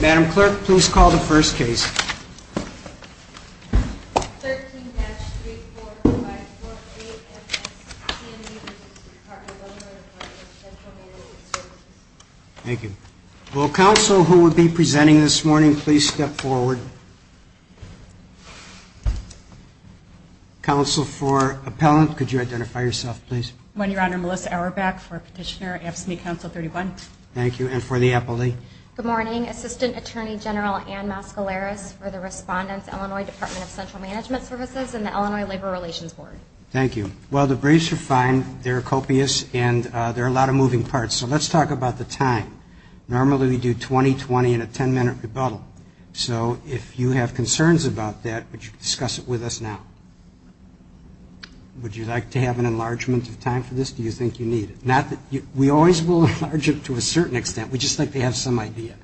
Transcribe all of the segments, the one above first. Madam Clerk, please call the first case. 13-3454A FSCME v. State Department of Illinois Department of Central Management Services Thank you. Will counsel who will be presenting this morning please step forward? Counsel for appellant, could you identify yourself please? One, Your Honor, Melissa Auerbach for Petitioner AFSCME Council 31. Thank you. And for the appellee? Good morning. Assistant Attorney General Ann Mascaleras for the Respondents, Illinois Department of Central Management Services and the Illinois Labor Relations Board. Thank you. Well, the briefs are fine. They're copious and there are a lot of moving parts. So let's talk about the time. Normally we do 20-20 in a 10-minute rebuttal. So if you have concerns about that, would you discuss it with us now? Would you like to have an enlargement of time for this? Do you think you need it? We always will enlarge it to a certain extent. We just like to have some idea.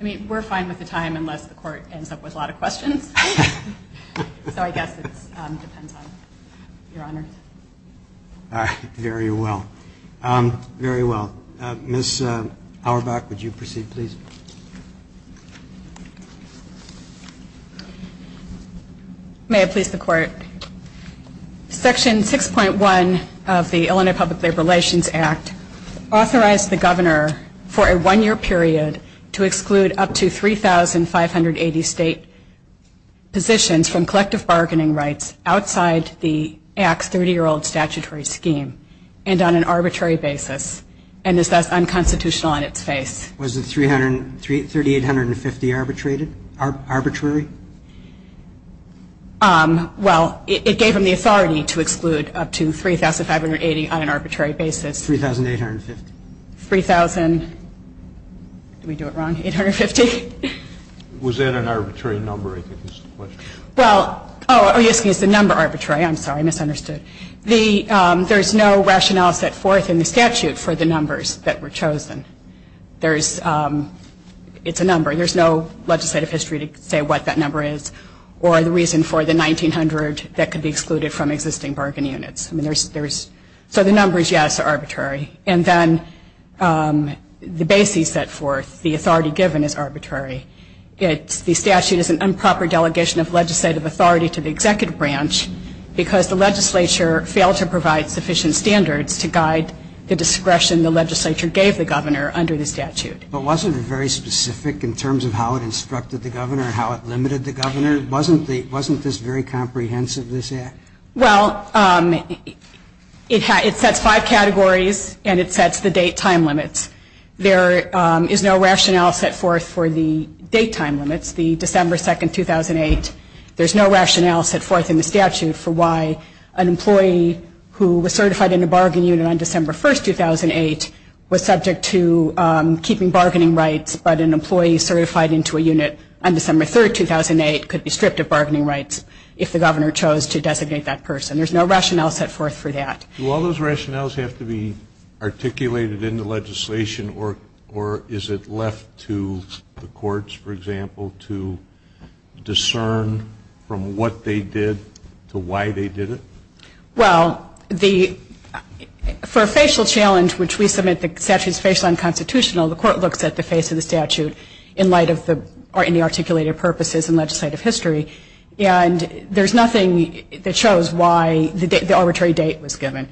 I mean, we're fine with the time unless the Court ends up with a lot of questions. So I guess it depends on Your Honor. All right. Very well. Very well. Ms. Auerbach, would you proceed please? May I please the Court? Section 6.1 of the Illinois Public Labor Relations Act authorized the Governor for a one-year period to exclude up to 3,580 state positions from collective bargaining rights outside the Act's 30-year-old statutory scheme and on an arbitrary basis and is thus unconstitutional in its face. Was the 3,850 arbitrated? Arbitrary? Well, it gave him the authority to exclude up to 3,580 on an arbitrary basis. 3,850? 3,000. Did we do it wrong? 850? Was that an arbitrary number? I think that's the question. Well, oh, yes, it's the number arbitrary. I'm sorry. I misunderstood. There's no rationale set forth in the statute for the numbers that were chosen. It's a number. There's no legislative history to say what that number is or the reason for the 1,900 that could be excluded from existing bargaining units. So the numbers, yes, are arbitrary. And then the basis set forth, the authority given, is arbitrary. The statute is an improper delegation of legislative authority to the executive branch because the legislature failed to provide sufficient standards to guide the discretion the legislature gave the governor under the statute. But wasn't it very specific in terms of how it instructed the governor and how it limited the governor? Wasn't this very comprehensive, this Act? Well, it sets five categories and it sets the date-time limits. There is no rationale set forth for the date-time limits, the December 2, 2008. There's no rationale set forth in the statute for why an employee who was certified in a bargaining unit on December 1, 2008, was subject to keeping bargaining rights but an employee certified into a unit on December 3, 2008, could be stripped of bargaining rights if the governor chose to designate that person. There's no rationale set forth for that. Do all those rationales have to be articulated in the legislation or is it left to the courts, for example, to discern from what they did to why they did it? Well, for a facial challenge, which we submit the statute is facial and constitutional, the court looks at the face of the statute in light of the articulated purposes in legislative history. And there's nothing that shows why the arbitrary date was given.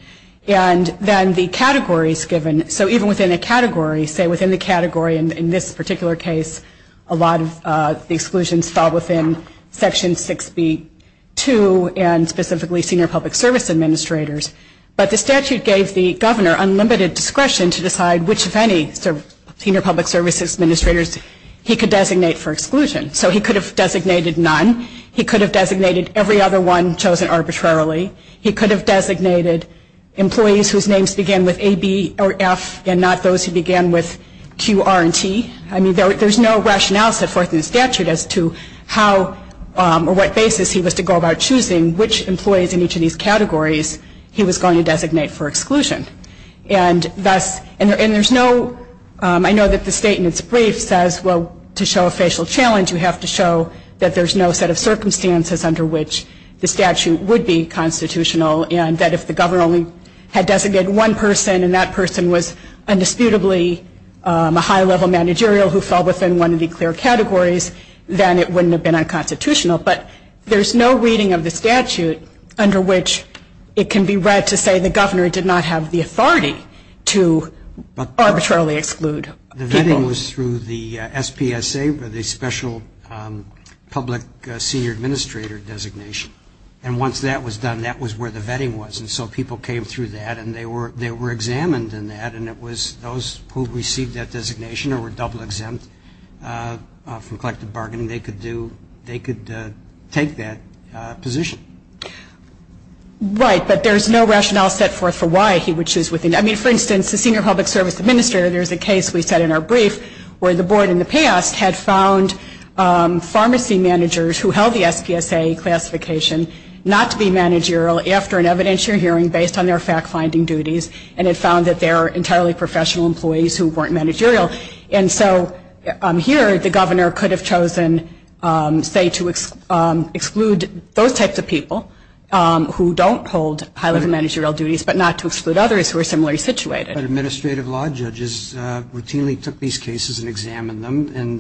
And then the categories given, so even within a category, say within the category in this particular case, a lot of the exclusions fall within Section 6b.2 and specifically senior public service administrators. But the statute gave the governor unlimited discretion to decide which, if any, senior public service administrators he could designate for exclusion. So he could have designated none. He could have designated every other one chosen arbitrarily. He could have designated employees whose names began with A, B, or F and not those who began with Q, R, and T. I mean, there's no rationale set forth in the statute as to how or what basis he was to go about choosing which employees in each of these categories he was going to designate for exclusion. And thus, and there's no, I know that the statement's brief says, well, to show a facial challenge, you have to show that there's no set of circumstances under which the statute would be constitutional and that if the governor only had designated one person and that person was indisputably a high-level managerial who fell within one of the clear categories, then it wouldn't have been unconstitutional. But there's no reading of the statute under which it can be read to say the governor did not have the authority to arbitrarily exclude people. The vetting was through the SPSA, the Special Public Senior Administrator designation. And once that was done, that was where the vetting was. And so people came through that, and they were examined in that, and it was those who received that designation or were double exempt from collective bargaining, they could do, they could take that position. Right, but there's no rationale set forth for why he would choose within. I mean, for instance, the Senior Public Service Administrator, there's a case we set in our brief where the board in the past had found pharmacy managers who held the SPSA classification not to be managerial after an evidentiary hearing based on their fact-finding duties and had found that they were entirely professional employees who weren't managerial. And so here, the governor could have chosen, say, to exclude those types of people who don't hold high-level managerial duties, but not to exclude others who are similarly situated. But administrative law judges routinely took these cases and examined them, and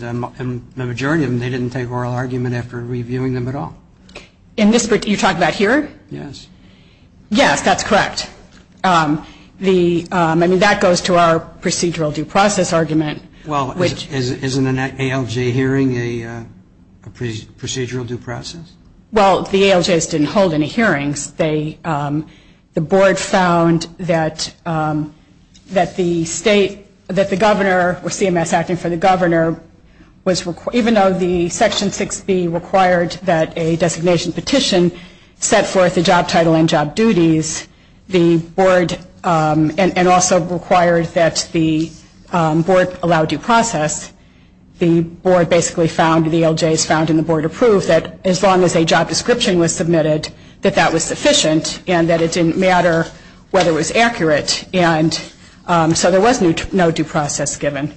the majority of them, they didn't take oral argument after reviewing them at all. You're talking about here? Yes. Yes, that's correct. I mean, that goes to our procedural due process argument. Well, isn't an ALJ hearing a procedural due process? Well, the ALJs didn't hold any hearings. The board found that the state, that the governor, CMS acting for the governor, even though the Section 6B required that a designation petition set forth a job title and job duties, and also required that the board allow due process, the board basically found, the ALJs found and the board approved, that as long as a job description was submitted, that that was sufficient and that it didn't matter whether it was accurate. And so there was no due process given.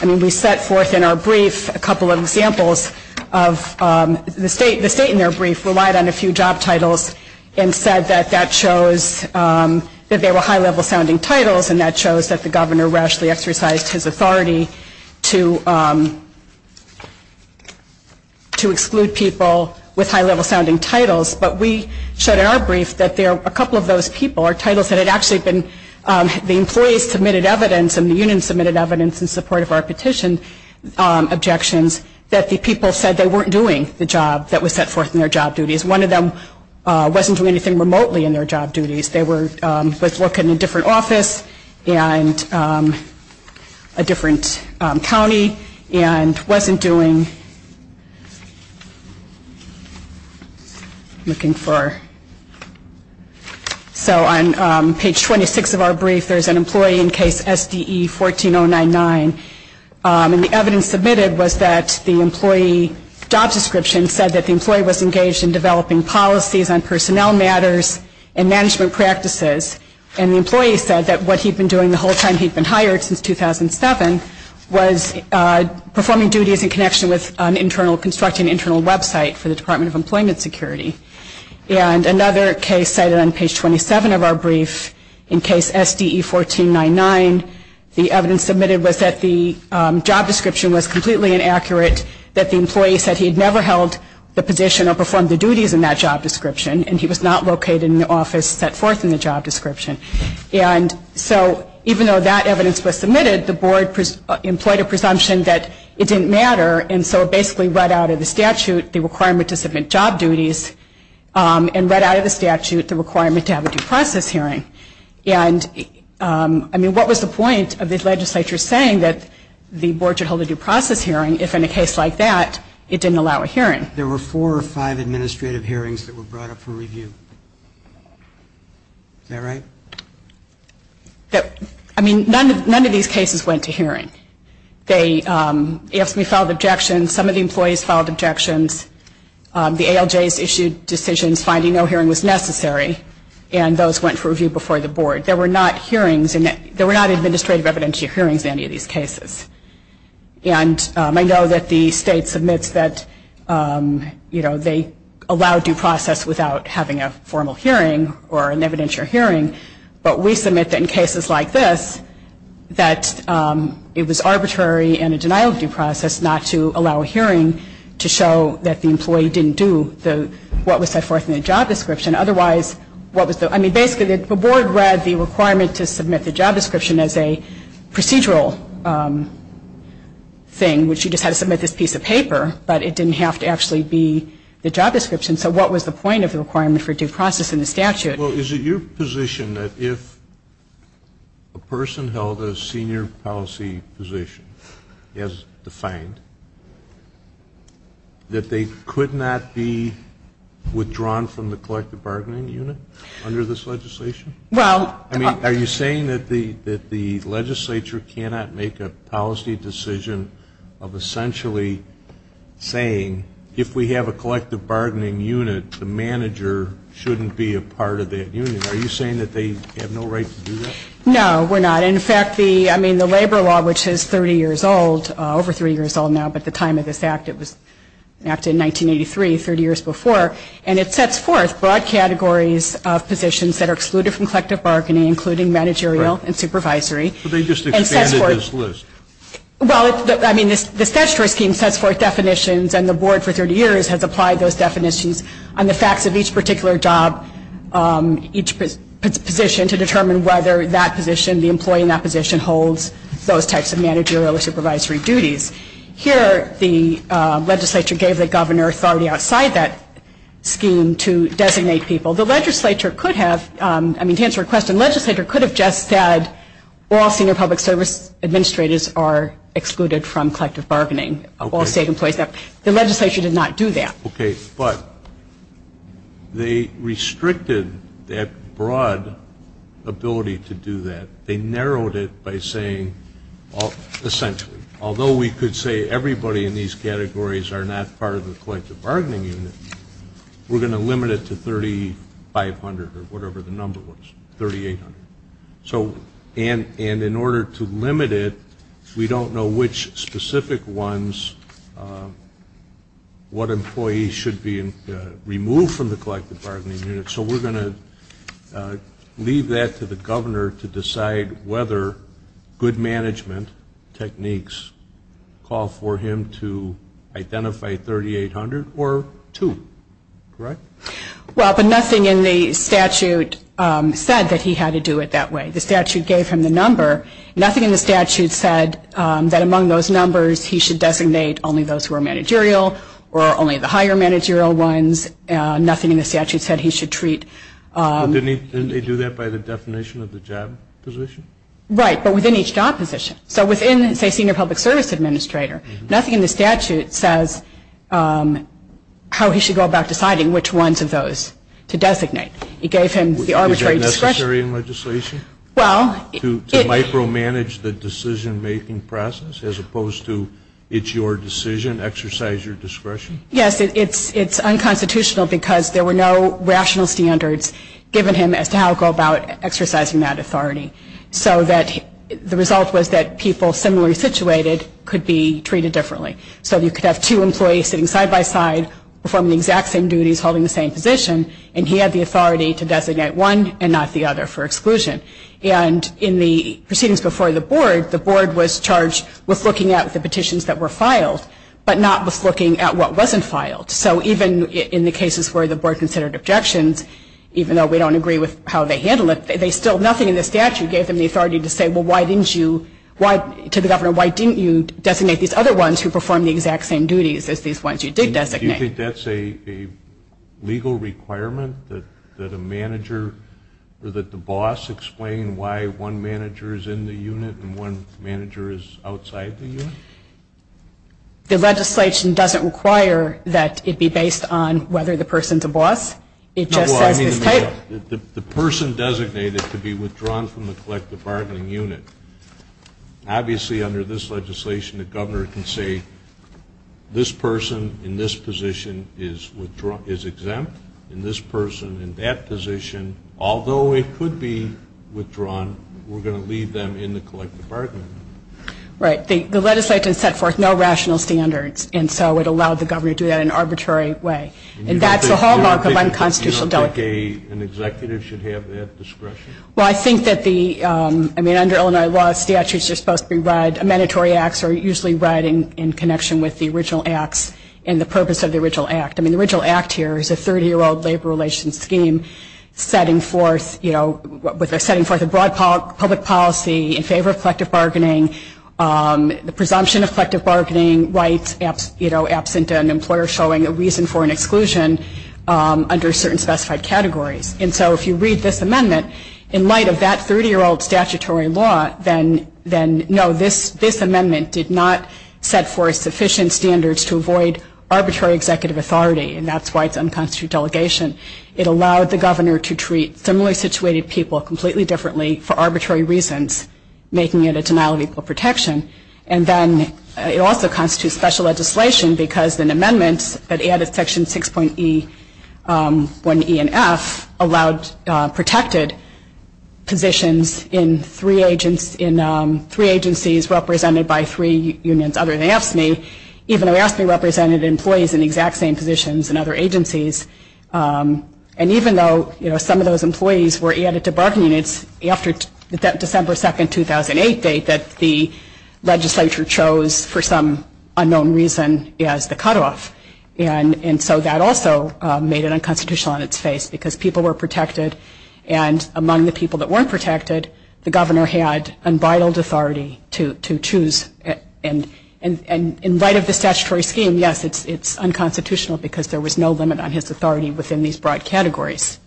I mean, we set forth in our brief a couple of examples of the state. The state in their brief relied on a few job titles and said that that shows that they were high-level sounding titles, and that shows that the governor rashly exercised his authority to exclude people with high-level sounding titles. But we showed in our brief that a couple of those people are titles that had actually been, the employees submitted evidence and the union submitted evidence in support of our petition objections, that the people said they weren't doing the job that was set forth in their job duties. One of them wasn't doing anything remotely in their job duties. They were, was working in a different office and a different county and wasn't doing, looking for, so on page 26 of our brief, there's an employee in case SDE 14-099, and the evidence submitted was that the employee job description said that the employee was engaged in developing policies on personnel matters and management practices, and the employee said that what he'd been doing the whole time he'd been hired since 2007 was performing duties in connection with an internal, constructing an internal website for the Department of Employment Security. And another case cited on page 27 of our brief, in case SDE 14-099, the evidence submitted was that the job description was completely inaccurate, that the employee said he'd never held the position or performed the duties in that job description, and he was not located in an office set forth in the job description. And so even though that evidence was submitted, the board employed a presumption that it didn't matter, and so basically read out of the statute the requirement to submit job duties, and read out of the statute the requirement to have a due process hearing. And, I mean, what was the point of the legislature saying that the board should hold a due process hearing if in a case like that it didn't allow a hearing? There were four or five administrative hearings that were brought up for review. Is that right? I mean, none of these cases went to hearing. They, AFSCME filed objections, some of the employees filed objections, the ALJs issued decisions finding no hearing was necessary, and those went for review before the board. There were not hearings, there were not administrative evidentiary hearings in any of these cases. And I know that the state submits that, you know, they allow due process without having a formal hearing or an evidentiary hearing, but we submit that in cases like this that it was arbitrary and a denial of due process not to allow a hearing to show that the employee didn't do what was set forth in the job description. Otherwise, what was the, I mean, basically the board read the requirement to submit the job description as a procedural thing, which you just had to submit this piece of paper, but it didn't have to actually be the job description. So what was the point of the requirement for due process in the statute? Well, is it your position that if a person held a senior policy position as defined, that they could not be withdrawn from the collective bargaining unit under this legislation? I mean, are you saying that the legislature cannot make a policy decision of essentially saying if we have a collective bargaining unit, the manager shouldn't be a part of that unit? Are you saying that they have no right to do that? No, we're not. In fact, I mean, the labor law, which is 30 years old, over 30 years old now, but at the time of this act it was enacted in 1983, 30 years before, and it sets forth broad categories of positions that are excluded from collective bargaining, including managerial and supervisory. But they just expanded this list. Well, I mean, the statutory scheme sets forth definitions, and the board for 30 years has applied those definitions on the facts of each particular job, each position to determine whether that position, the employee in that position, holds those types of managerial or supervisory duties. Here the legislature gave the governor authority outside that scheme to designate people. The legislature could have, I mean, to answer your question, the legislature could have just said all senior public service administrators are excluded from collective bargaining, all state employees. The legislature did not do that. Okay, but they restricted that broad ability to do that. They narrowed it by saying essentially, although we could say everybody in these categories are not part of the collective bargaining unit, we're going to limit it to 3,500 or whatever the number was, 3,800. And in order to limit it, we don't know which specific ones, what employees should be removed from the collective bargaining unit, So we're going to leave that to the governor to decide whether good management techniques call for him to identify 3,800 or two. Correct? Well, but nothing in the statute said that he had to do it that way. The statute gave him the number. Nothing in the statute said that among those numbers he should designate only those who are managerial or only the higher managerial ones. Nothing in the statute said he should treat... Didn't they do that by the definition of the job position? Right, but within each job position. So within, say, senior public service administrator, nothing in the statute says how he should go about deciding which ones of those to designate. It gave him the arbitrary discretion. Is that necessary in legislation? Well... To micromanage the decision-making process as opposed to it's your decision, exercise your discretion? Yes, it's unconstitutional because there were no rational standards given him as to how to go about exercising that authority. So that the result was that people similarly situated could be treated differently. So you could have two employees sitting side-by-side performing the exact same duties, holding the same position, and he had the authority to designate one and not the other for exclusion. And in the proceedings before the board, the board was charged with looking at the petitions that were filed, but not with looking at what wasn't filed. So even in the cases where the board considered objections, even though we don't agree with how they handled it, they still, nothing in the statute gave them the authority to say, well, why didn't you, to the governor, why didn't you designate these other ones who performed the exact same duties as these ones you did designate? The boss explain why one manager is in the unit and one manager is outside the unit? The legislation doesn't require that it be based on whether the person's a boss. It just says this type. The person designated to be withdrawn from the collective bargaining unit, obviously under this legislation the governor can say, this person in this position is exempt, and this person in that position, although it could be withdrawn, we're going to leave them in the collective bargaining unit. Right. The legislation set forth no rational standards, and so it allowed the governor to do that in an arbitrary way. And that's the hallmark of unconstitutional delegating. You don't think an executive should have that discretion? Well, I think that the, I mean, under Illinois law, statutes are supposed to be read, mandatory acts are usually read in connection with the original acts and the purpose of the original act. I mean, the original act here is a 30-year-old labor relations scheme setting forth, you know, setting forth a broad public policy in favor of collective bargaining, the presumption of collective bargaining rights, you know, absent an employer showing a reason for an exclusion under certain specified categories. And so if you read this amendment, in light of that 30-year-old statutory law, then, no, this amendment did not set forth sufficient standards to avoid arbitrary executive authority, and that's why it's unconstituted delegation. It allowed the governor to treat similarly situated people completely differently for arbitrary reasons, making it a denial of equal protection. And then it also constitutes special legislation because an amendment that added Section 6.E, 1E, and F, allowed protected positions in three agencies represented by three unions other than AFSCME, even though AFSCME represented employees in the exact same positions in other agencies. And even though, you know, some of those employees were added to bargaining units after that December 2, 2008 date, that the legislature chose for some unknown reason as the cutoff. And so that also made it unconstitutional on its face because people were protected, and among the people that weren't protected, the governor had unbridled authority to choose. And in light of the statutory scheme, yes, it's unconstitutional because there was no limit on his authority within these broad categories.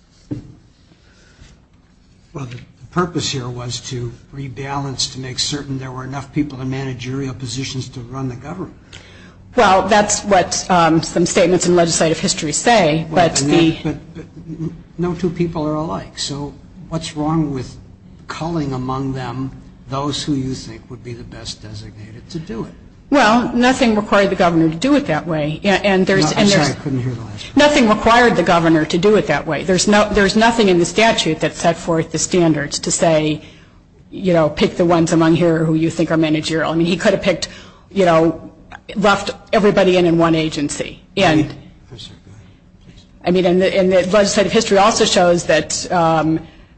Well, the purpose here was to rebalance, to make certain there were enough people in managerial positions to run the government. Well, that's what some statements in legislative history say. But no two people are alike. So what's wrong with culling among them those who you think would be the best designated to do it? Well, nothing required the governor to do it that way. I'm sorry, I couldn't hear the last part. Nothing required the governor to do it that way. There's nothing in the statute that set forth the standards to say, you know, pick the ones among here who you think are managerial. I mean, he could have picked, you know, left everybody in in one agency. And legislative history also shows that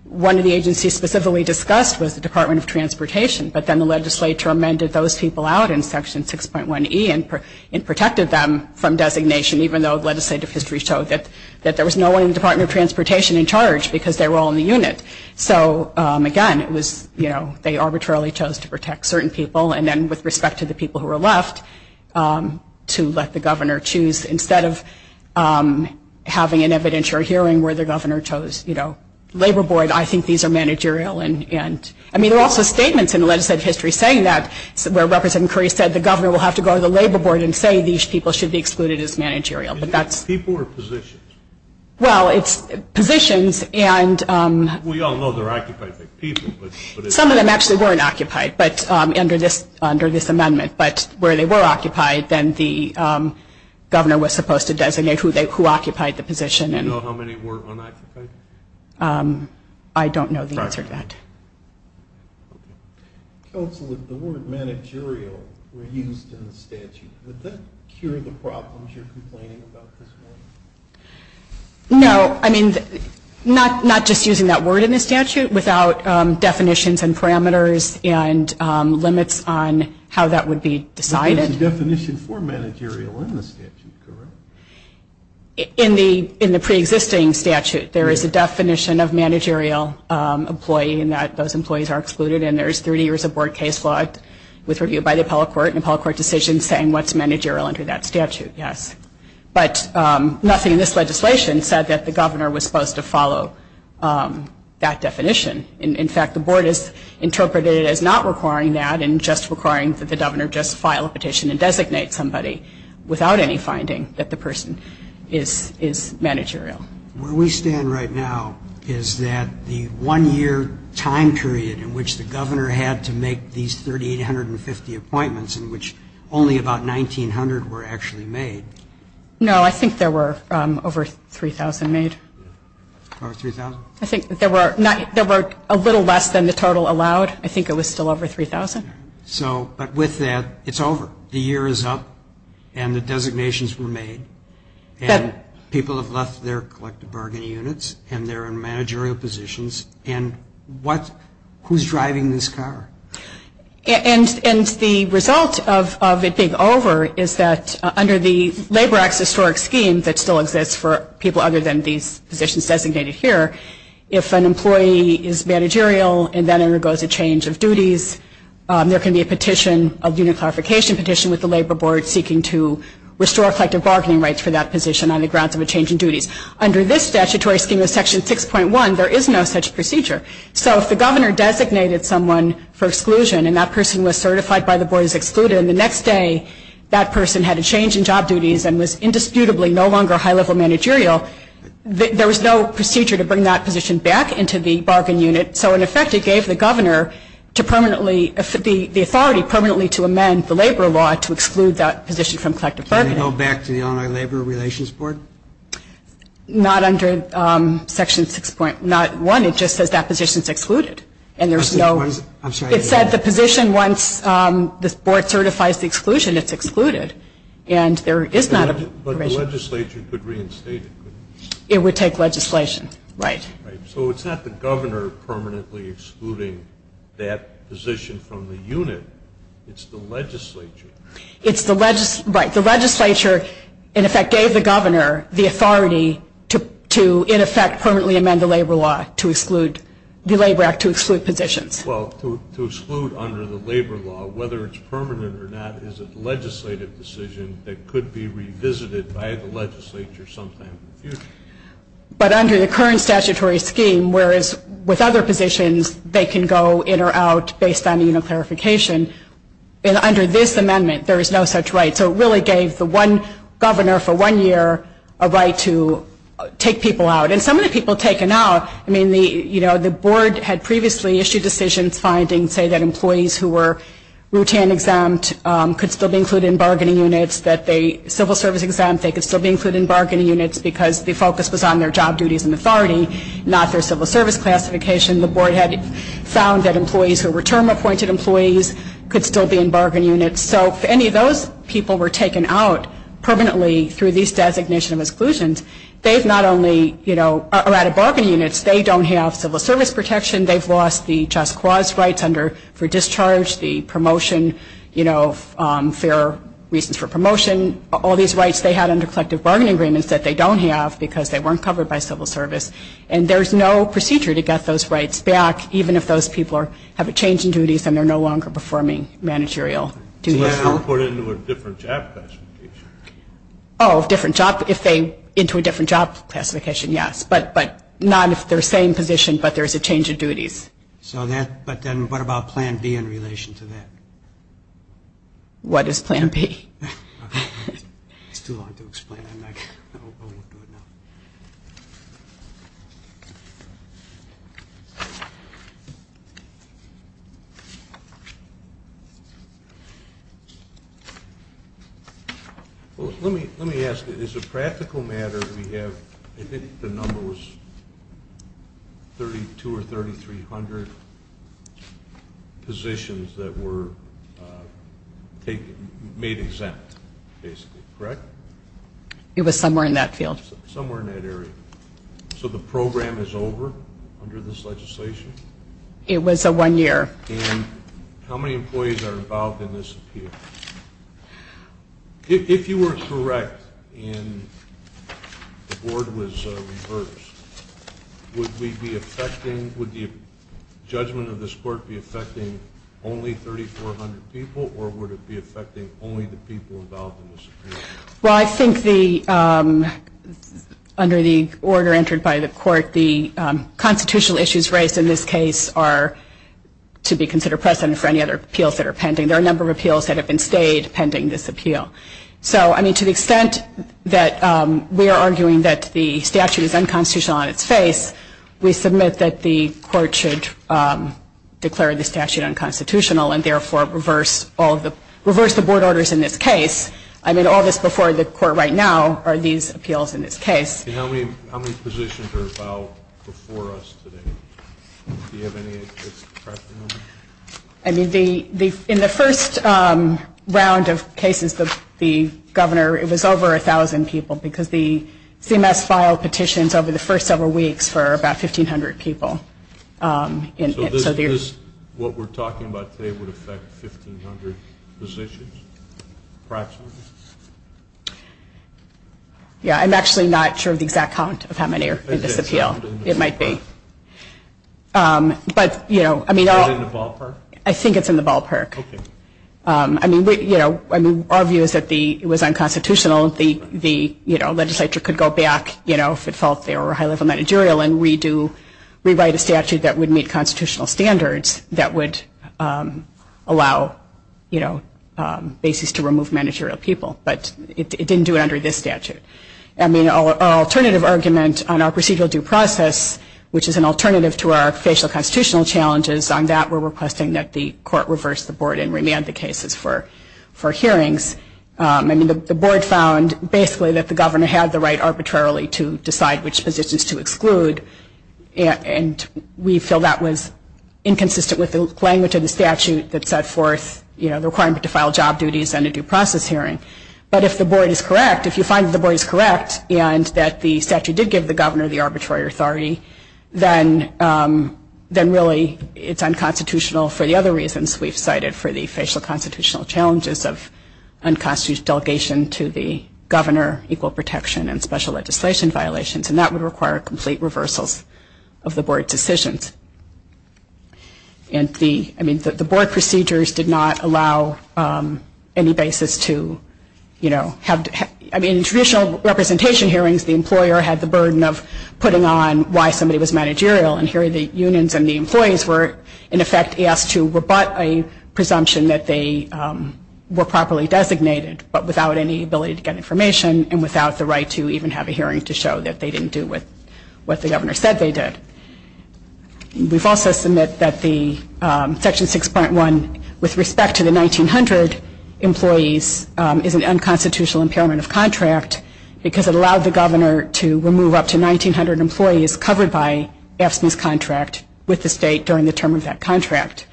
one of the agencies specifically discussed was the Department of Transportation. But then the legislature amended those people out in Section 6.1E and protected them from designation, even though legislative history showed that there was no one in the Department of Transportation in charge because they were all in the unit. So, again, it was, you know, they arbitrarily chose to protect certain people. And then with respect to the people who were left, to let the governor choose, instead of having an evidentiary hearing where the governor chose, you know, labor board, I think these are managerial. I mean, there are also statements in legislative history saying that, where Representative Curry said the governor will have to go to the labor board and say these people should be excluded as managerial. People or positions? Well, it's positions. We all know they're occupied by people. Some of them actually weren't occupied under this amendment. But where they were occupied, then the governor was supposed to designate who occupied the position. Do you know how many were unoccupied? I don't know the answer to that. Counsel, if the word managerial were used in the statute, would that cure the problems you're complaining about this morning? No. I mean, not just using that word in the statute, without definitions and parameters and limits on how that would be decided. But there's a definition for managerial in the statute, correct? In the preexisting statute, there is a definition of managerial employee in that those employees are excluded. And there's 30 years of board case law with review by the appellate court and appellate court decisions saying what's managerial under that statute, yes. But nothing in this legislation said that the governor was supposed to follow that definition. In fact, the board has interpreted it as not requiring that and just requiring that the governor just file a petition and designate somebody without any finding that the person is managerial. Where we stand right now is that the one-year time period in which the governor had to make these 3,850 appointments, in which only about 1,900 were actually made. No, I think there were over 3,000 made. Over 3,000? I think there were a little less than the total allowed. I think it was still over 3,000. But with that, it's over. The year is up, and the designations were made, and people have left their collective bargaining units, and they're in managerial positions, and who's driving this car? And the result of it being over is that under the Labor Act's historic scheme that still exists for people other than these positions designated here, if an employee is managerial and then undergoes a change of duties, there can be a petition, a unit clarification petition with the labor board seeking to restore collective bargaining rights for that position on the grounds of a change in duties. Under this statutory scheme of Section 6.1, there is no such procedure. So if the governor designated someone for exclusion and that person was certified by the board as excluded, and the next day that person had a change in job duties and was indisputably no longer high-level managerial, there was no procedure to bring that position back into the bargain unit. So, in effect, it gave the governor the authority permanently to amend the labor law to exclude that position from collective bargaining. Can it go back to the online labor relations board? Not under Section 6.1. It just says that position is excluded. I'm sorry. It said the position, once the board certifies the exclusion, it's excluded. And there is not a provision. But the legislature could reinstate it, couldn't it? It would take legislation. Right. So it's not the governor permanently excluding that position from the unit. It's the legislature. Right. The legislature, in effect, gave the governor the authority to, in effect, permanently amend the labor act to exclude positions. Well, to exclude under the labor law, whether it's permanent or not, is a legislative decision that could be revisited by the legislature sometime in the future. But under the current statutory scheme, whereas with other positions, they can go in or out based on unit clarification, under this amendment there is no such right. So it really gave the one governor for one year a right to take people out. Right. And some of the people taken out, I mean, the board had previously issued decisions finding, say, that employees who were routine exempt could still be included in bargaining units, that civil service exempt, they could still be included in bargaining units because the focus was on their job duties and authority, not their civil service classification. The board had found that employees who were term-appointed employees could still be in bargaining units. So if any of those people were taken out permanently through these designations of exclusions, they've not only, you know, are out of bargaining units. They don't have civil service protection. They've lost the just cause rights for discharge, the promotion, you know, fair reasons for promotion. All these rights they had under collective bargaining agreements that they don't have because they weren't covered by civil service. And there's no procedure to get those rights back, even if those people have a change in duties and they're no longer performing managerial duties. So they have to be put into a different job classification. Oh, different job. If they're into a different job classification, yes. But not if they're same position, but there's a change of duties. So then what about Plan B in relation to that? What is Plan B? It's too long to explain. I won't do it now. Well, let me ask you. As a practical matter, we have, I think the number was 2 or 3,300 positions that were made exempt, basically. Correct? It was somewhere in that field. Somewhere in that area. So the program is over under this legislation? It was a one-year. And how many employees are involved in this appeal? If you were correct and the board was reversed, would the judgment of this court be affecting only 3,400 people or would it be affecting only the people involved in this appeal? Well, I think under the order entered by the court, the constitutional issues raised in this case are to be considered precedent for any other appeals that are pending. There are a number of appeals that have been stayed pending this appeal. So, I mean, to the extent that we are arguing that the statute is unconstitutional on its face, we submit that the court should declare the statute unconstitutional and therefore reverse the board orders in this case. I mean, all this before the court right now are these appeals in this case. How many positions are about before us today? Do you have any at this present moment? I mean, in the first round of cases, the governor, it was over 1,000 people because the CMS filed petitions over the first several weeks for about 1,500 people. So what we're talking about today would affect 1,500 positions approximately? Yeah, I'm actually not sure of the exact count of how many are in this appeal. It might be. But, you know, I mean... Is it in the ballpark? I think it's in the ballpark. Okay. I mean, you know, our view is that it was unconstitutional. The legislature could go back, you know, if it felt they were high-level managerial and re-write a statute that would meet constitutional standards that would allow, you know, basis to remove managerial people. But it didn't do it under this statute. I mean, our alternative argument on our procedural due process, which is an alternative to our facial constitutional challenges, on that we're requesting that the court reverse the board and remand the cases for hearings. I mean, the board found basically that the governor had the right arbitrarily to decide which positions to exclude, and we feel that was inconsistent with the language of the statute that set forth, you know, the requirement to file job duties and a due process hearing. But if the board is correct, if you find that the board is correct and that the statute did give the governor the arbitrary authority, then really it's unconstitutional for the other reasons we've cited for the facial constitutional challenges of unconstitutional delegation to the governor, equal protection, and special legislation violations. And that would require complete reversals of the board decisions. And the, I mean, the board procedures did not allow any basis to, you know, have, I mean, traditional representation hearings, the employer had the burden of putting on why somebody was managerial, and here the unions and the employees were, in effect, asked to rebut a presumption that they were properly designated, but without any ability to get information and without the right to even have a hearing to show that they didn't do what the governor said they did. We've also submitted that the Section 6.1 with respect to the 1900 employees is an unconstitutional impairment of contract because it allowed the governor to remove up to 1900 employees covered by AFSCME's contract with the state during the term of that contract.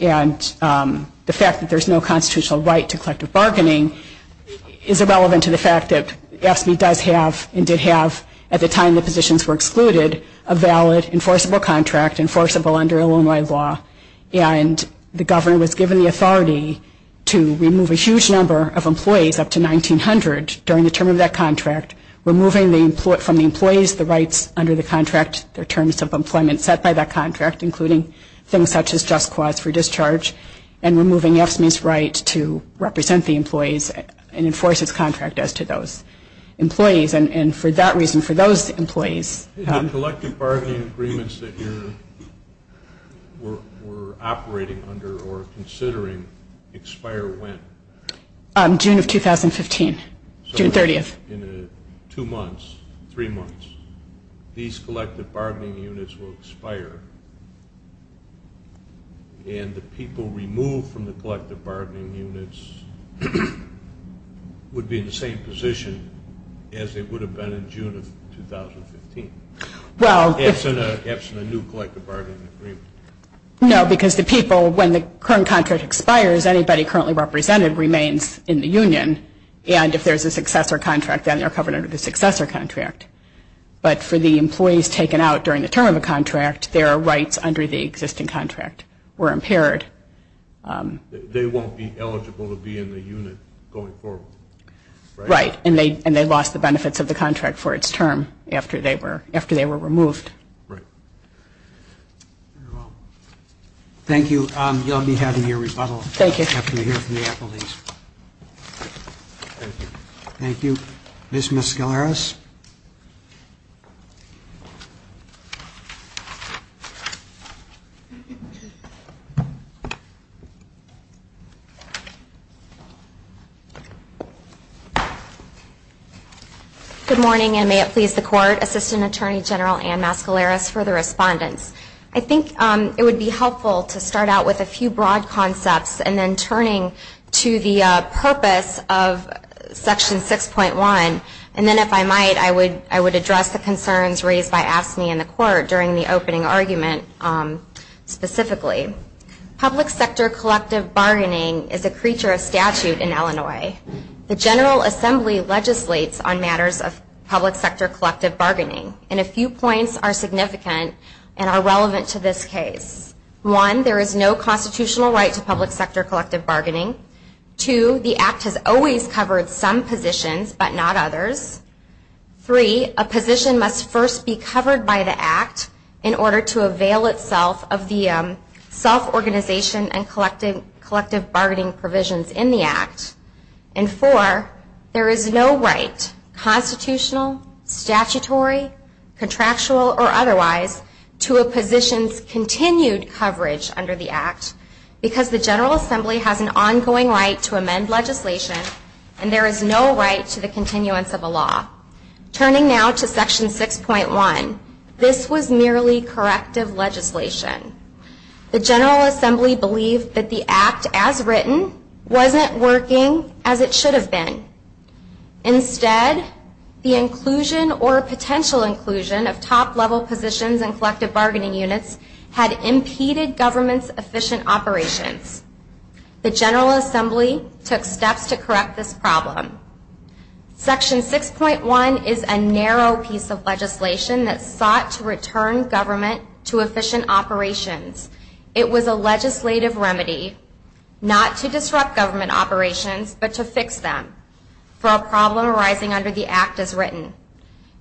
And the fact that there's no constitutional right to collective bargaining is irrelevant to the fact that AFSCME does have and did have, at the time the positions were excluded, a valid, enforceable contract, enforceable under Illinois law, and the governor was given the authority to remove a huge number of employees up to 1900 during the term of that contract, removing from the employees the rights under the contract, the terms of employment set by that contract, including things such as just cause for discharge, and removing AFSCME's right to represent the employees and enforce its contract as to those employees. And for that reason, for those employees... The collective bargaining agreements that you're operating under or considering expire when? June of 2015, June 30th. So in two months, three months, these collective bargaining units will expire, and the people removed from the collective bargaining units would be in the same position as they would have been in June of 2015. Well... That's in a new collective bargaining agreement. No, because the people, when the current contract expires, anybody currently represented remains in the union, and if there's a successor contract, then they're covered under the successor contract. But for the employees taken out during the term of a contract, their rights under the existing contract were impaired. They won't be eligible to be in the unit going forward, right? Right. And they lost the benefits of the contract for its term after they were removed. Right. Very well. Thank you. You'll be having your rebuttal... Thank you. ...after you hear from the employees. Thank you. Thank you. Ms. Mescaleras? Good morning, and may it please the Court. Assistant Attorney General Ann Mescaleras for the respondents. I think it would be helpful to start out with a few broad concepts and then turning to the purpose of Section 6.1, and then if I might, I would address the concerns raised by AFSCME in the Court Public and private companies, Public sector collective bargaining is a creature of statute in Illinois. The General Assembly legislates on matters of public sector collective bargaining, and a few points are significant and are relevant to this case. One, there is no constitutional right to public sector collective bargaining. Two, the Act has always covered some positions, but not others. Four, there is no right, constitutional, statutory, contractual, or otherwise, to a position's continued coverage under the Act, because the General Assembly has an ongoing right to amend legislation, and there is no right to the continuance of a law. Turning now to Section 6.1, this was merely corrective legislation. The General Assembly believed that the Act, as written, wasn't working as it should have been. Instead, the inclusion or potential inclusion of top-level positions in collective bargaining units had impeded government's efficient operations. The General Assembly took steps to correct this problem. Section 6.1 is a narrow piece of legislation that sought to return government to efficient operations. It was a legislative remedy not to disrupt government operations, but to fix them for a problem arising under the Act, as written.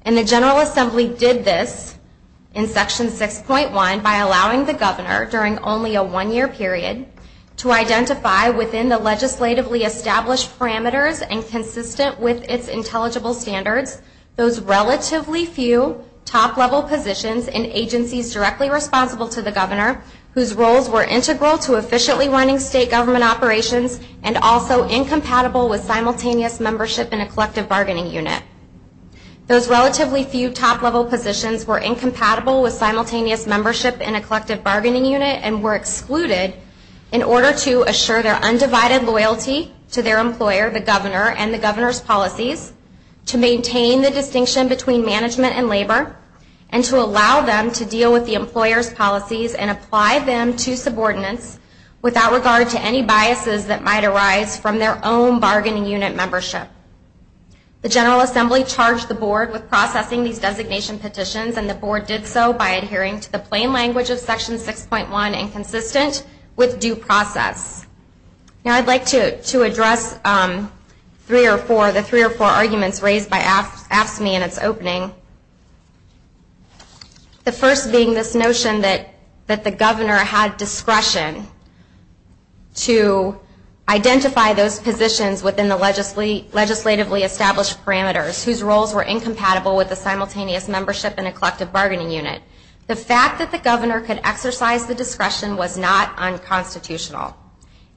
And the General Assembly did this in Section 6.1 by allowing the governor, during only a one-year period, to identify, within the legislatively established parameters and consistent with its intelligible standards, those relatively few top-level positions in agencies directly responsible to the governor, whose roles were integral to efficiently running state government operations and also incompatible with simultaneous membership in a collective bargaining unit. Those relatively few top-level positions were incompatible with simultaneous membership in a collective bargaining unit and were excluded in order to assure their undivided loyalty to their employer, the governor, and the governor's policies, to maintain the distinction between management and labor, and to allow them to deal with the employer's policies and apply them to subordinates without regard to any biases that might arise from their own bargaining unit membership. The General Assembly charged the Board with processing these designation petitions, and the Board did so by adhering to the plain language of Section 6.1 and consistent with due process. Now, I'd like to address the three or four arguments raised by AFSCME in its opening, the first being this notion that the governor had discretion to identify those positions within the legislatively established parameters whose roles were incompatible with the simultaneous membership in a collective bargaining unit. The fact that the governor could exercise the discretion was not unconstitutional.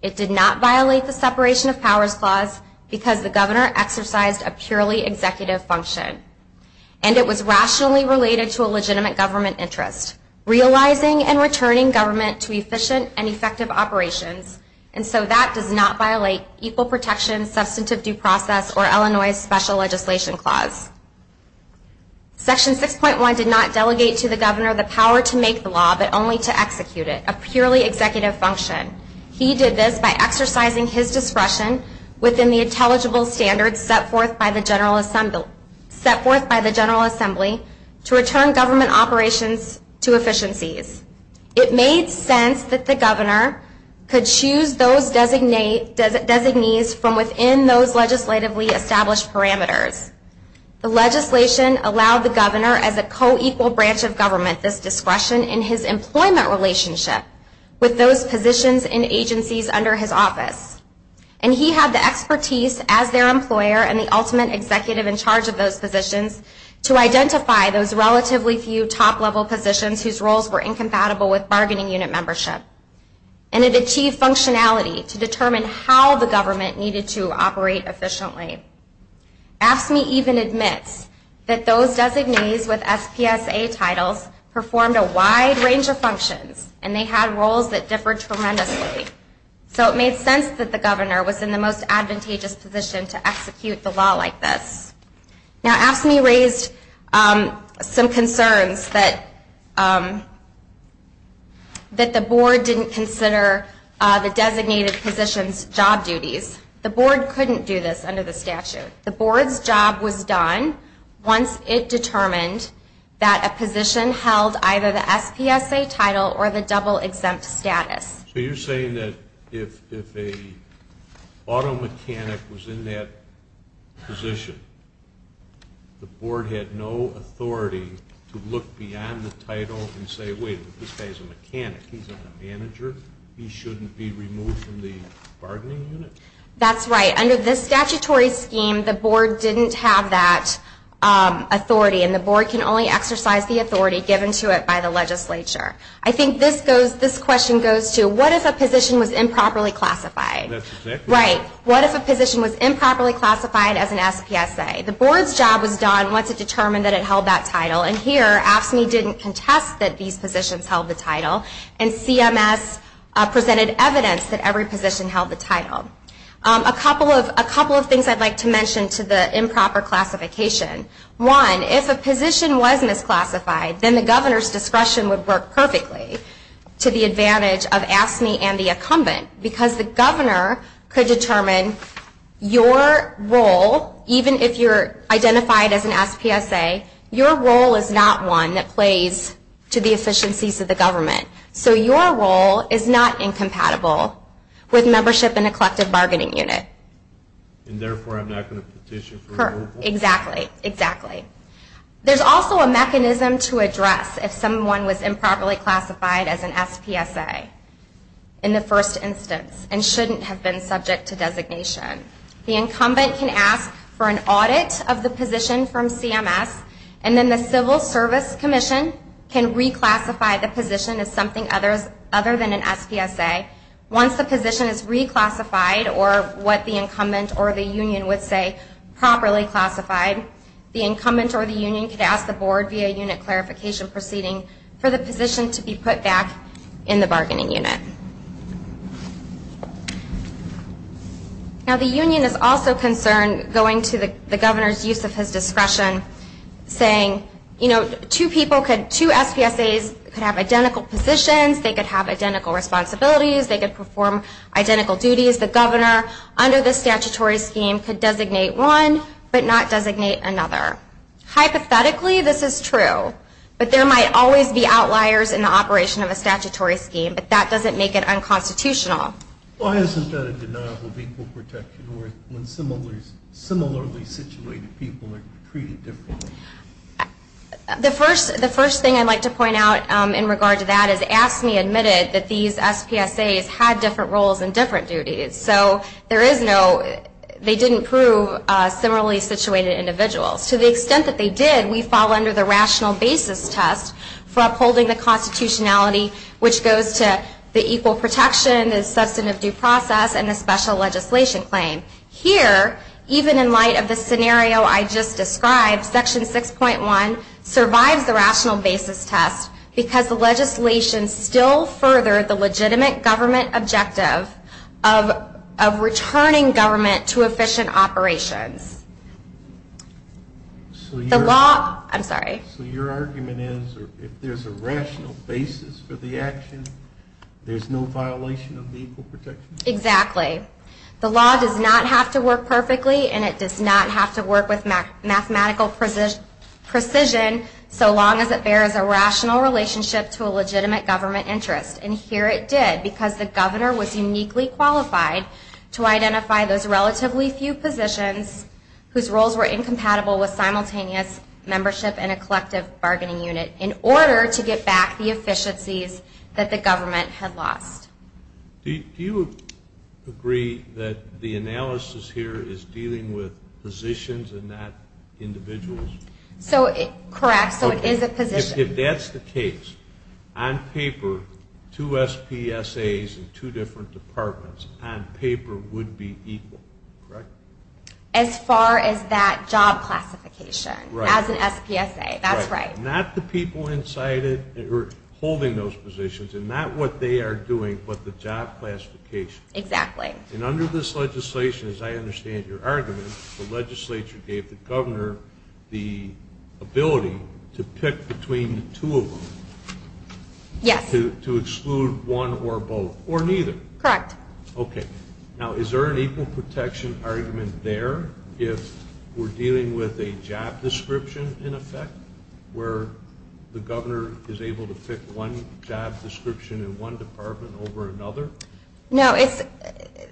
It did not violate the separation of powers clause because the governor exercised a purely executive function, and it was rationally related to a legitimate government interest, realizing and returning government to efficient and effective operations, and so that does not violate equal protection, substantive due process, or Illinois' special legislation clause. Section 6.1 did not delegate to the governor the power to make the law, but only to execute it, a purely executive function. He did this by exercising his discretion within the intelligible standards set forth by the General Assembly to return government operations to efficiencies. It made sense that the governor could choose those designees from within those legislatively established parameters. The legislation allowed the governor as a co-equal branch of government this discretion in his employment relationship with those positions and agencies under his office, and he had the expertise as their employer and the ultimate executive in charge of those positions to identify those relatively few top-level positions whose roles were incompatible with bargaining unit membership, and it achieved functionality to determine how the government needed to operate efficiently. AFSCME even admits that those designees with SPSA titles performed a wide range of functions, and they had roles that differed tremendously, so it made sense that the governor was in the most advantageous position to execute the law like this. Now, AFSCME raised some concerns that the board didn't consider the designated positions' job duties. The board couldn't do this under the statute. The board's job was done once it determined that a position held either the SPSA title or the double-exempt status. So you're saying that if an auto mechanic was in that position, the board had no authority to look beyond the title and say, wait, this guy's a mechanic, he's a manager, he shouldn't be removed from the bargaining unit? That's right. Under the statutory scheme, the board didn't have that authority, and the board can only exercise the authority given to it by the legislature. I think this question goes to, what if a position was improperly classified? Right. What if a position was improperly classified as an SPSA? The board's job was done once it determined that it held that title, and here AFSCME didn't contest that these positions held the title, and CMS presented evidence that every position held the title. A couple of things I'd like to mention to the improper classification. One, if a position was misclassified, then the governor's discretion would work perfectly to the advantage of AFSCME and the incumbent, because the governor could determine your role, even if you're identified as an SPSA, your role is not one that plays to the efficiencies of the government. So your role is not incompatible with membership in a collective bargaining unit. And therefore, I'm not going to petition for removal? Exactly, exactly. There's also a mechanism to address if someone was improperly classified as an SPSA in the first instance and shouldn't have been subject to designation. The incumbent can ask for an audit of the position from CMS, and then the Civil Service Commission can reclassify the position as something other than an SPSA. Once the position is reclassified, or what the incumbent or the union would say, properly classified, the incumbent or the union could ask the board via unit clarification proceeding for the position to be put back in the bargaining unit. Now, the union is also concerned, going to the governor's use of his discretion, saying, you know, two SPSAs could have identical positions, they could have identical responsibilities, they could perform identical duties. The governor, under the statutory scheme, could designate one but not designate another. Hypothetically, this is true. But there might always be outliers in the operation of a statutory scheme, but that doesn't make it unconstitutional. Why isn't that a denial of equal protection when similarly situated people are treated differently? The first thing I'd like to point out in regard to that is, AFSCME admitted that these SPSAs had different roles and different duties. So there is no, they didn't prove similarly situated individuals. To the extent that they did, we fall under the rational basis test for upholding the constitutionality, which goes to the equal protection, the substantive due process, and the special legislation claim. Here, even in light of the scenario I just described, Section 6.1 survives the rational basis test because the legislation still furthered the legitimate government objective of returning government to efficient operations. The law, I'm sorry. So your argument is, if there's a rational basis for the action, there's no violation of the equal protection? Exactly. The law does not have to work perfectly, and it does not have to work with mathematical precision, so long as it bears a rational relationship to a legitimate government interest. And here it did, because the governor was uniquely qualified to identify those relatively few positions whose roles were incompatible with simultaneous membership in a collective bargaining unit in order to get back the efficiencies that the government had lost. Do you agree that the analysis here is dealing with positions and not individuals? Correct, so it is a position. If that's the case, on paper, two SPSAs in two different departments, on paper would be equal, correct? As far as that job classification, as an SPSA, that's right. Not the people inside it who are holding those positions, and not what they are doing, but the job classification. Exactly. And under this legislation, as I understand your argument, the legislature gave the governor the ability to pick between the two of them. Yes. To exclude one or both, or neither. Correct. Okay. Now, is there an equal protection argument there if we're dealing with a job description, in effect, where the governor is able to pick one job description in one department over another? No,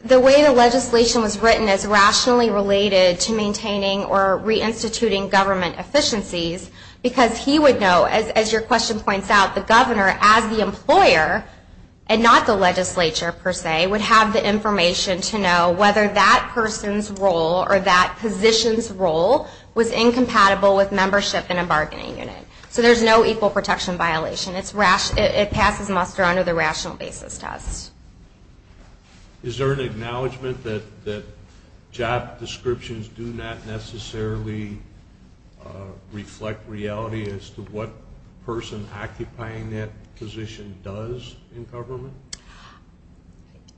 the way the legislation was written is rationally related to maintaining or reinstituting government efficiencies, because he would know, as your question points out, the governor, as the employer, and not the legislature, per se, would have the information to know whether that person's role or that position's role was incompatible with membership in a bargaining unit. So there's no equal protection violation. It passes muster under the rational basis test. Is there an acknowledgment that job descriptions do not necessarily reflect reality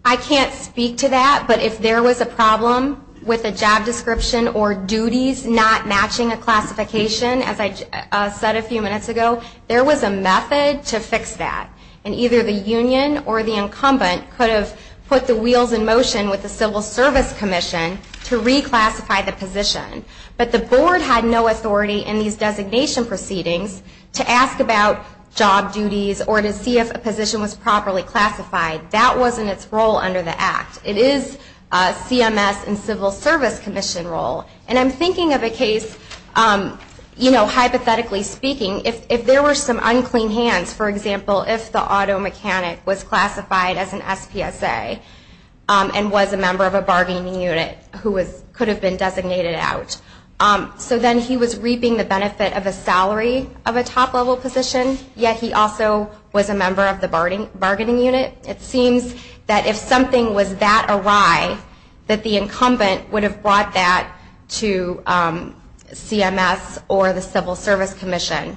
I can't speak to that, but if there was a problem with a job description or duties not matching a classification, as I said a few minutes ago, there was a method to fix that. And either the union or the incumbent could have put the wheels in motion with the Civil Service Commission to reclassify the position. But the board had no authority in these designation proceedings to ask about job duties or to see if a position was properly classified. That wasn't its role under the Act. It is CMS and Civil Service Commission role. And I'm thinking of a case, hypothetically speaking, if there were some unclean hands, for example, if the auto mechanic was classified as an SPSA and was a member of a bargaining unit who could have been designated out. So then he was reaping the benefit of a salary of a top-level position, yet he also was a member of the bargaining unit. It seems that if something was that awry, that the incumbent would have brought that to CMS or the Civil Service Commission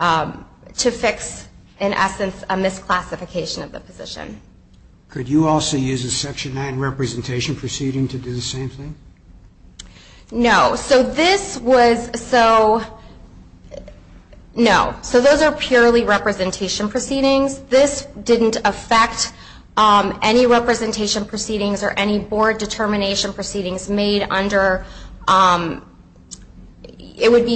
to fix, in essence, a misclassification of the position. Could you also use a Section 9 representation proceeding to do the same thing? No. So those are purely representation proceedings. This didn't affect any representation proceedings or any board determination proceedings made under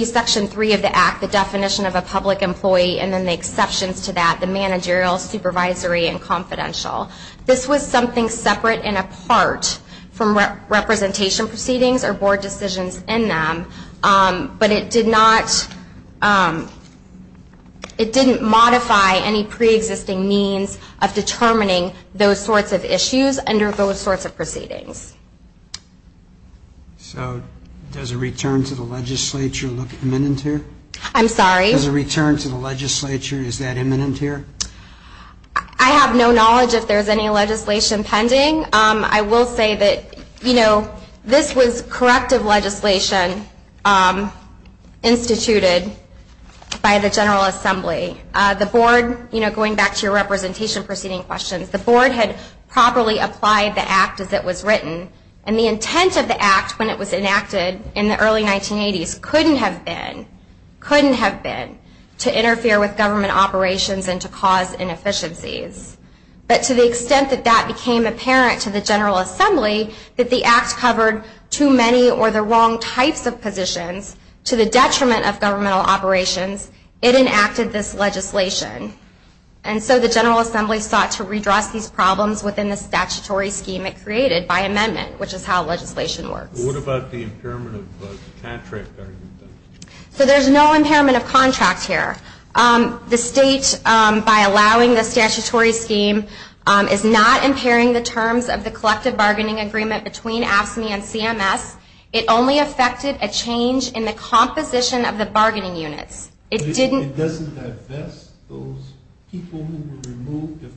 Section 3 of the Act, the definition of a public employee, and then the exceptions to that, the managerial, supervisory, and confidential. This was something separate and apart from representation proceedings or board decisions in them, but it did not, it didn't modify any preexisting means of determining those sorts of issues under those sorts of proceedings. So does a return to the legislature look imminent here? I'm sorry? Does a return to the legislature, is that imminent here? I have no knowledge if there's any legislation pending. I will say that, you know, this was corrective legislation instituted by the General Assembly. The board, you know, going back to your representation proceeding questions, the board had properly applied the Act as it was written, and the intent of the Act when it was enacted in the early 1980s couldn't have been, couldn't have been to interfere with government operations and to cause inefficiencies. But to the extent that that became apparent to the General Assembly, that the Act covered too many or the wrong types of positions to the detriment of governmental operations, it enacted this legislation. And so the General Assembly sought to redress these problems within the statutory scheme it created by amendment, which is how legislation works. What about the impairment of contract? So there's no impairment of contract here. The state, by allowing the statutory scheme, is not impairing the terms of the collective bargaining agreement between AFSCME and CMS. It only affected a change in the composition of the bargaining units. It doesn't divest those people who were removed of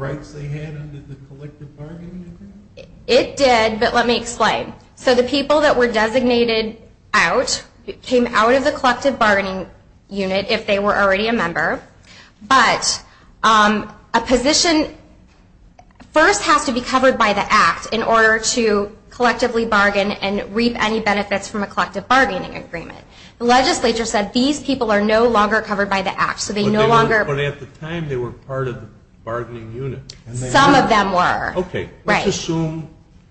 rights they had under the collective bargaining agreement? It did, but let me explain. So the people that were designated out came out of the collective bargaining unit if they were already a member, but a position first has to be covered by the Act in order to collectively bargain and reap any benefits from a collective bargaining agreement. The legislature said these people are no longer covered by the Act, so they no longer... But at the time they were part of the bargaining unit. Some of them were. Okay. Let's assume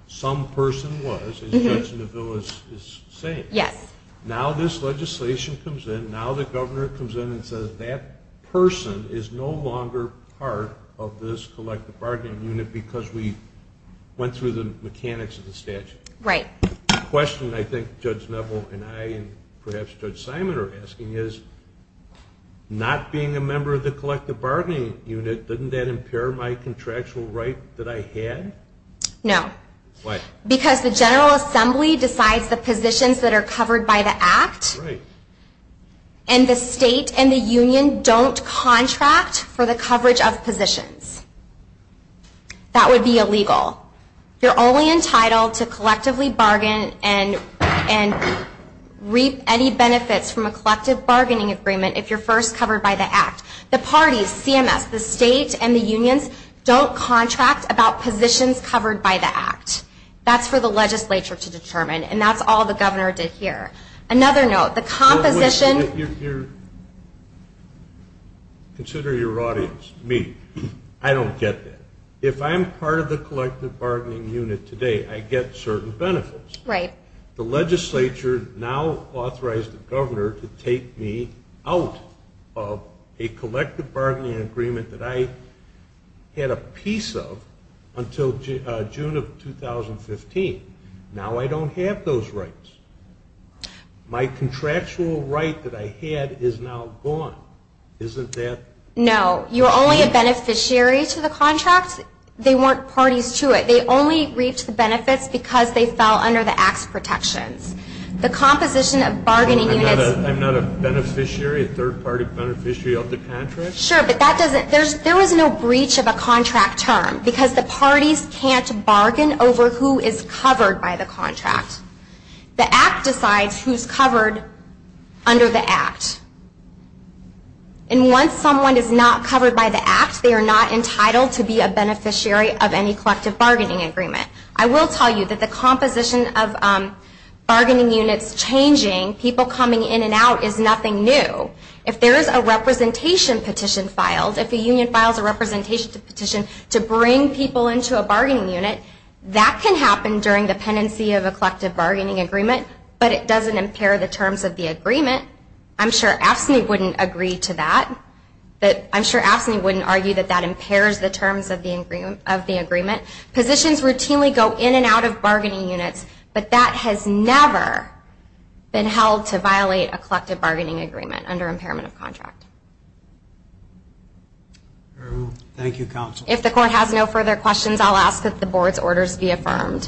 some person was, as Judge Neville is saying. Yes. Now this legislation comes in. Now the governor comes in and says that person is no longer part of this collective bargaining unit because we went through the mechanics of the statute. Right. The question I think Judge Neville and I and perhaps Judge Simon are asking is, not being a member of the collective bargaining unit, doesn't that impair my contractual right that I had? No. Why? Because the General Assembly decides the positions that are covered by the Act. Right. And the state and the union don't contract for the coverage of positions. That would be illegal. You're only entitled to collectively bargain and reap any benefits from a collective bargaining agreement if you're first covered by the Act. The parties, CMS, the state and the unions, don't contract about positions covered by the Act. That's for the legislature to determine, and that's all the governor did here. Another note, the composition... Wait a minute. Consider your audience, me. I don't get that. If I'm part of the collective bargaining unit today, I get certain benefits. Right. The legislature now authorized the governor to take me out of a collective bargaining agreement that I had a piece of until June of 2015. Now I don't have those rights. My contractual right that I had is now gone. Isn't that... No. You're only a beneficiary to the contract. They weren't parties to it. They only reaped the benefits because they fell under the Act's protections. The composition of bargaining units... I'm not a beneficiary, a third-party beneficiary of the contract? Sure, but that doesn't... There is no breach of a contract term because the parties can't bargain over who is covered by the contract. The Act decides who's covered under the Act. And once someone is not covered by the Act, they are not entitled to be a beneficiary of any collective bargaining agreement. I will tell you that the composition of bargaining units changing, people coming in and out, is nothing new. If there is a representation petition filed, if a union files a representation petition to bring people into a bargaining unit, that can happen during the pendency of a collective bargaining agreement, but it doesn't impair the terms of the agreement. I'm sure AFSCME wouldn't agree to that. I'm sure AFSCME wouldn't argue that that impairs the terms of the agreement. Positions routinely go in and out of bargaining units, but that has never been held to violate a collective bargaining agreement under impairment of contract. Thank you, Counsel. If the Court has no further questions, I'll ask that the Board's orders be affirmed. Thank you.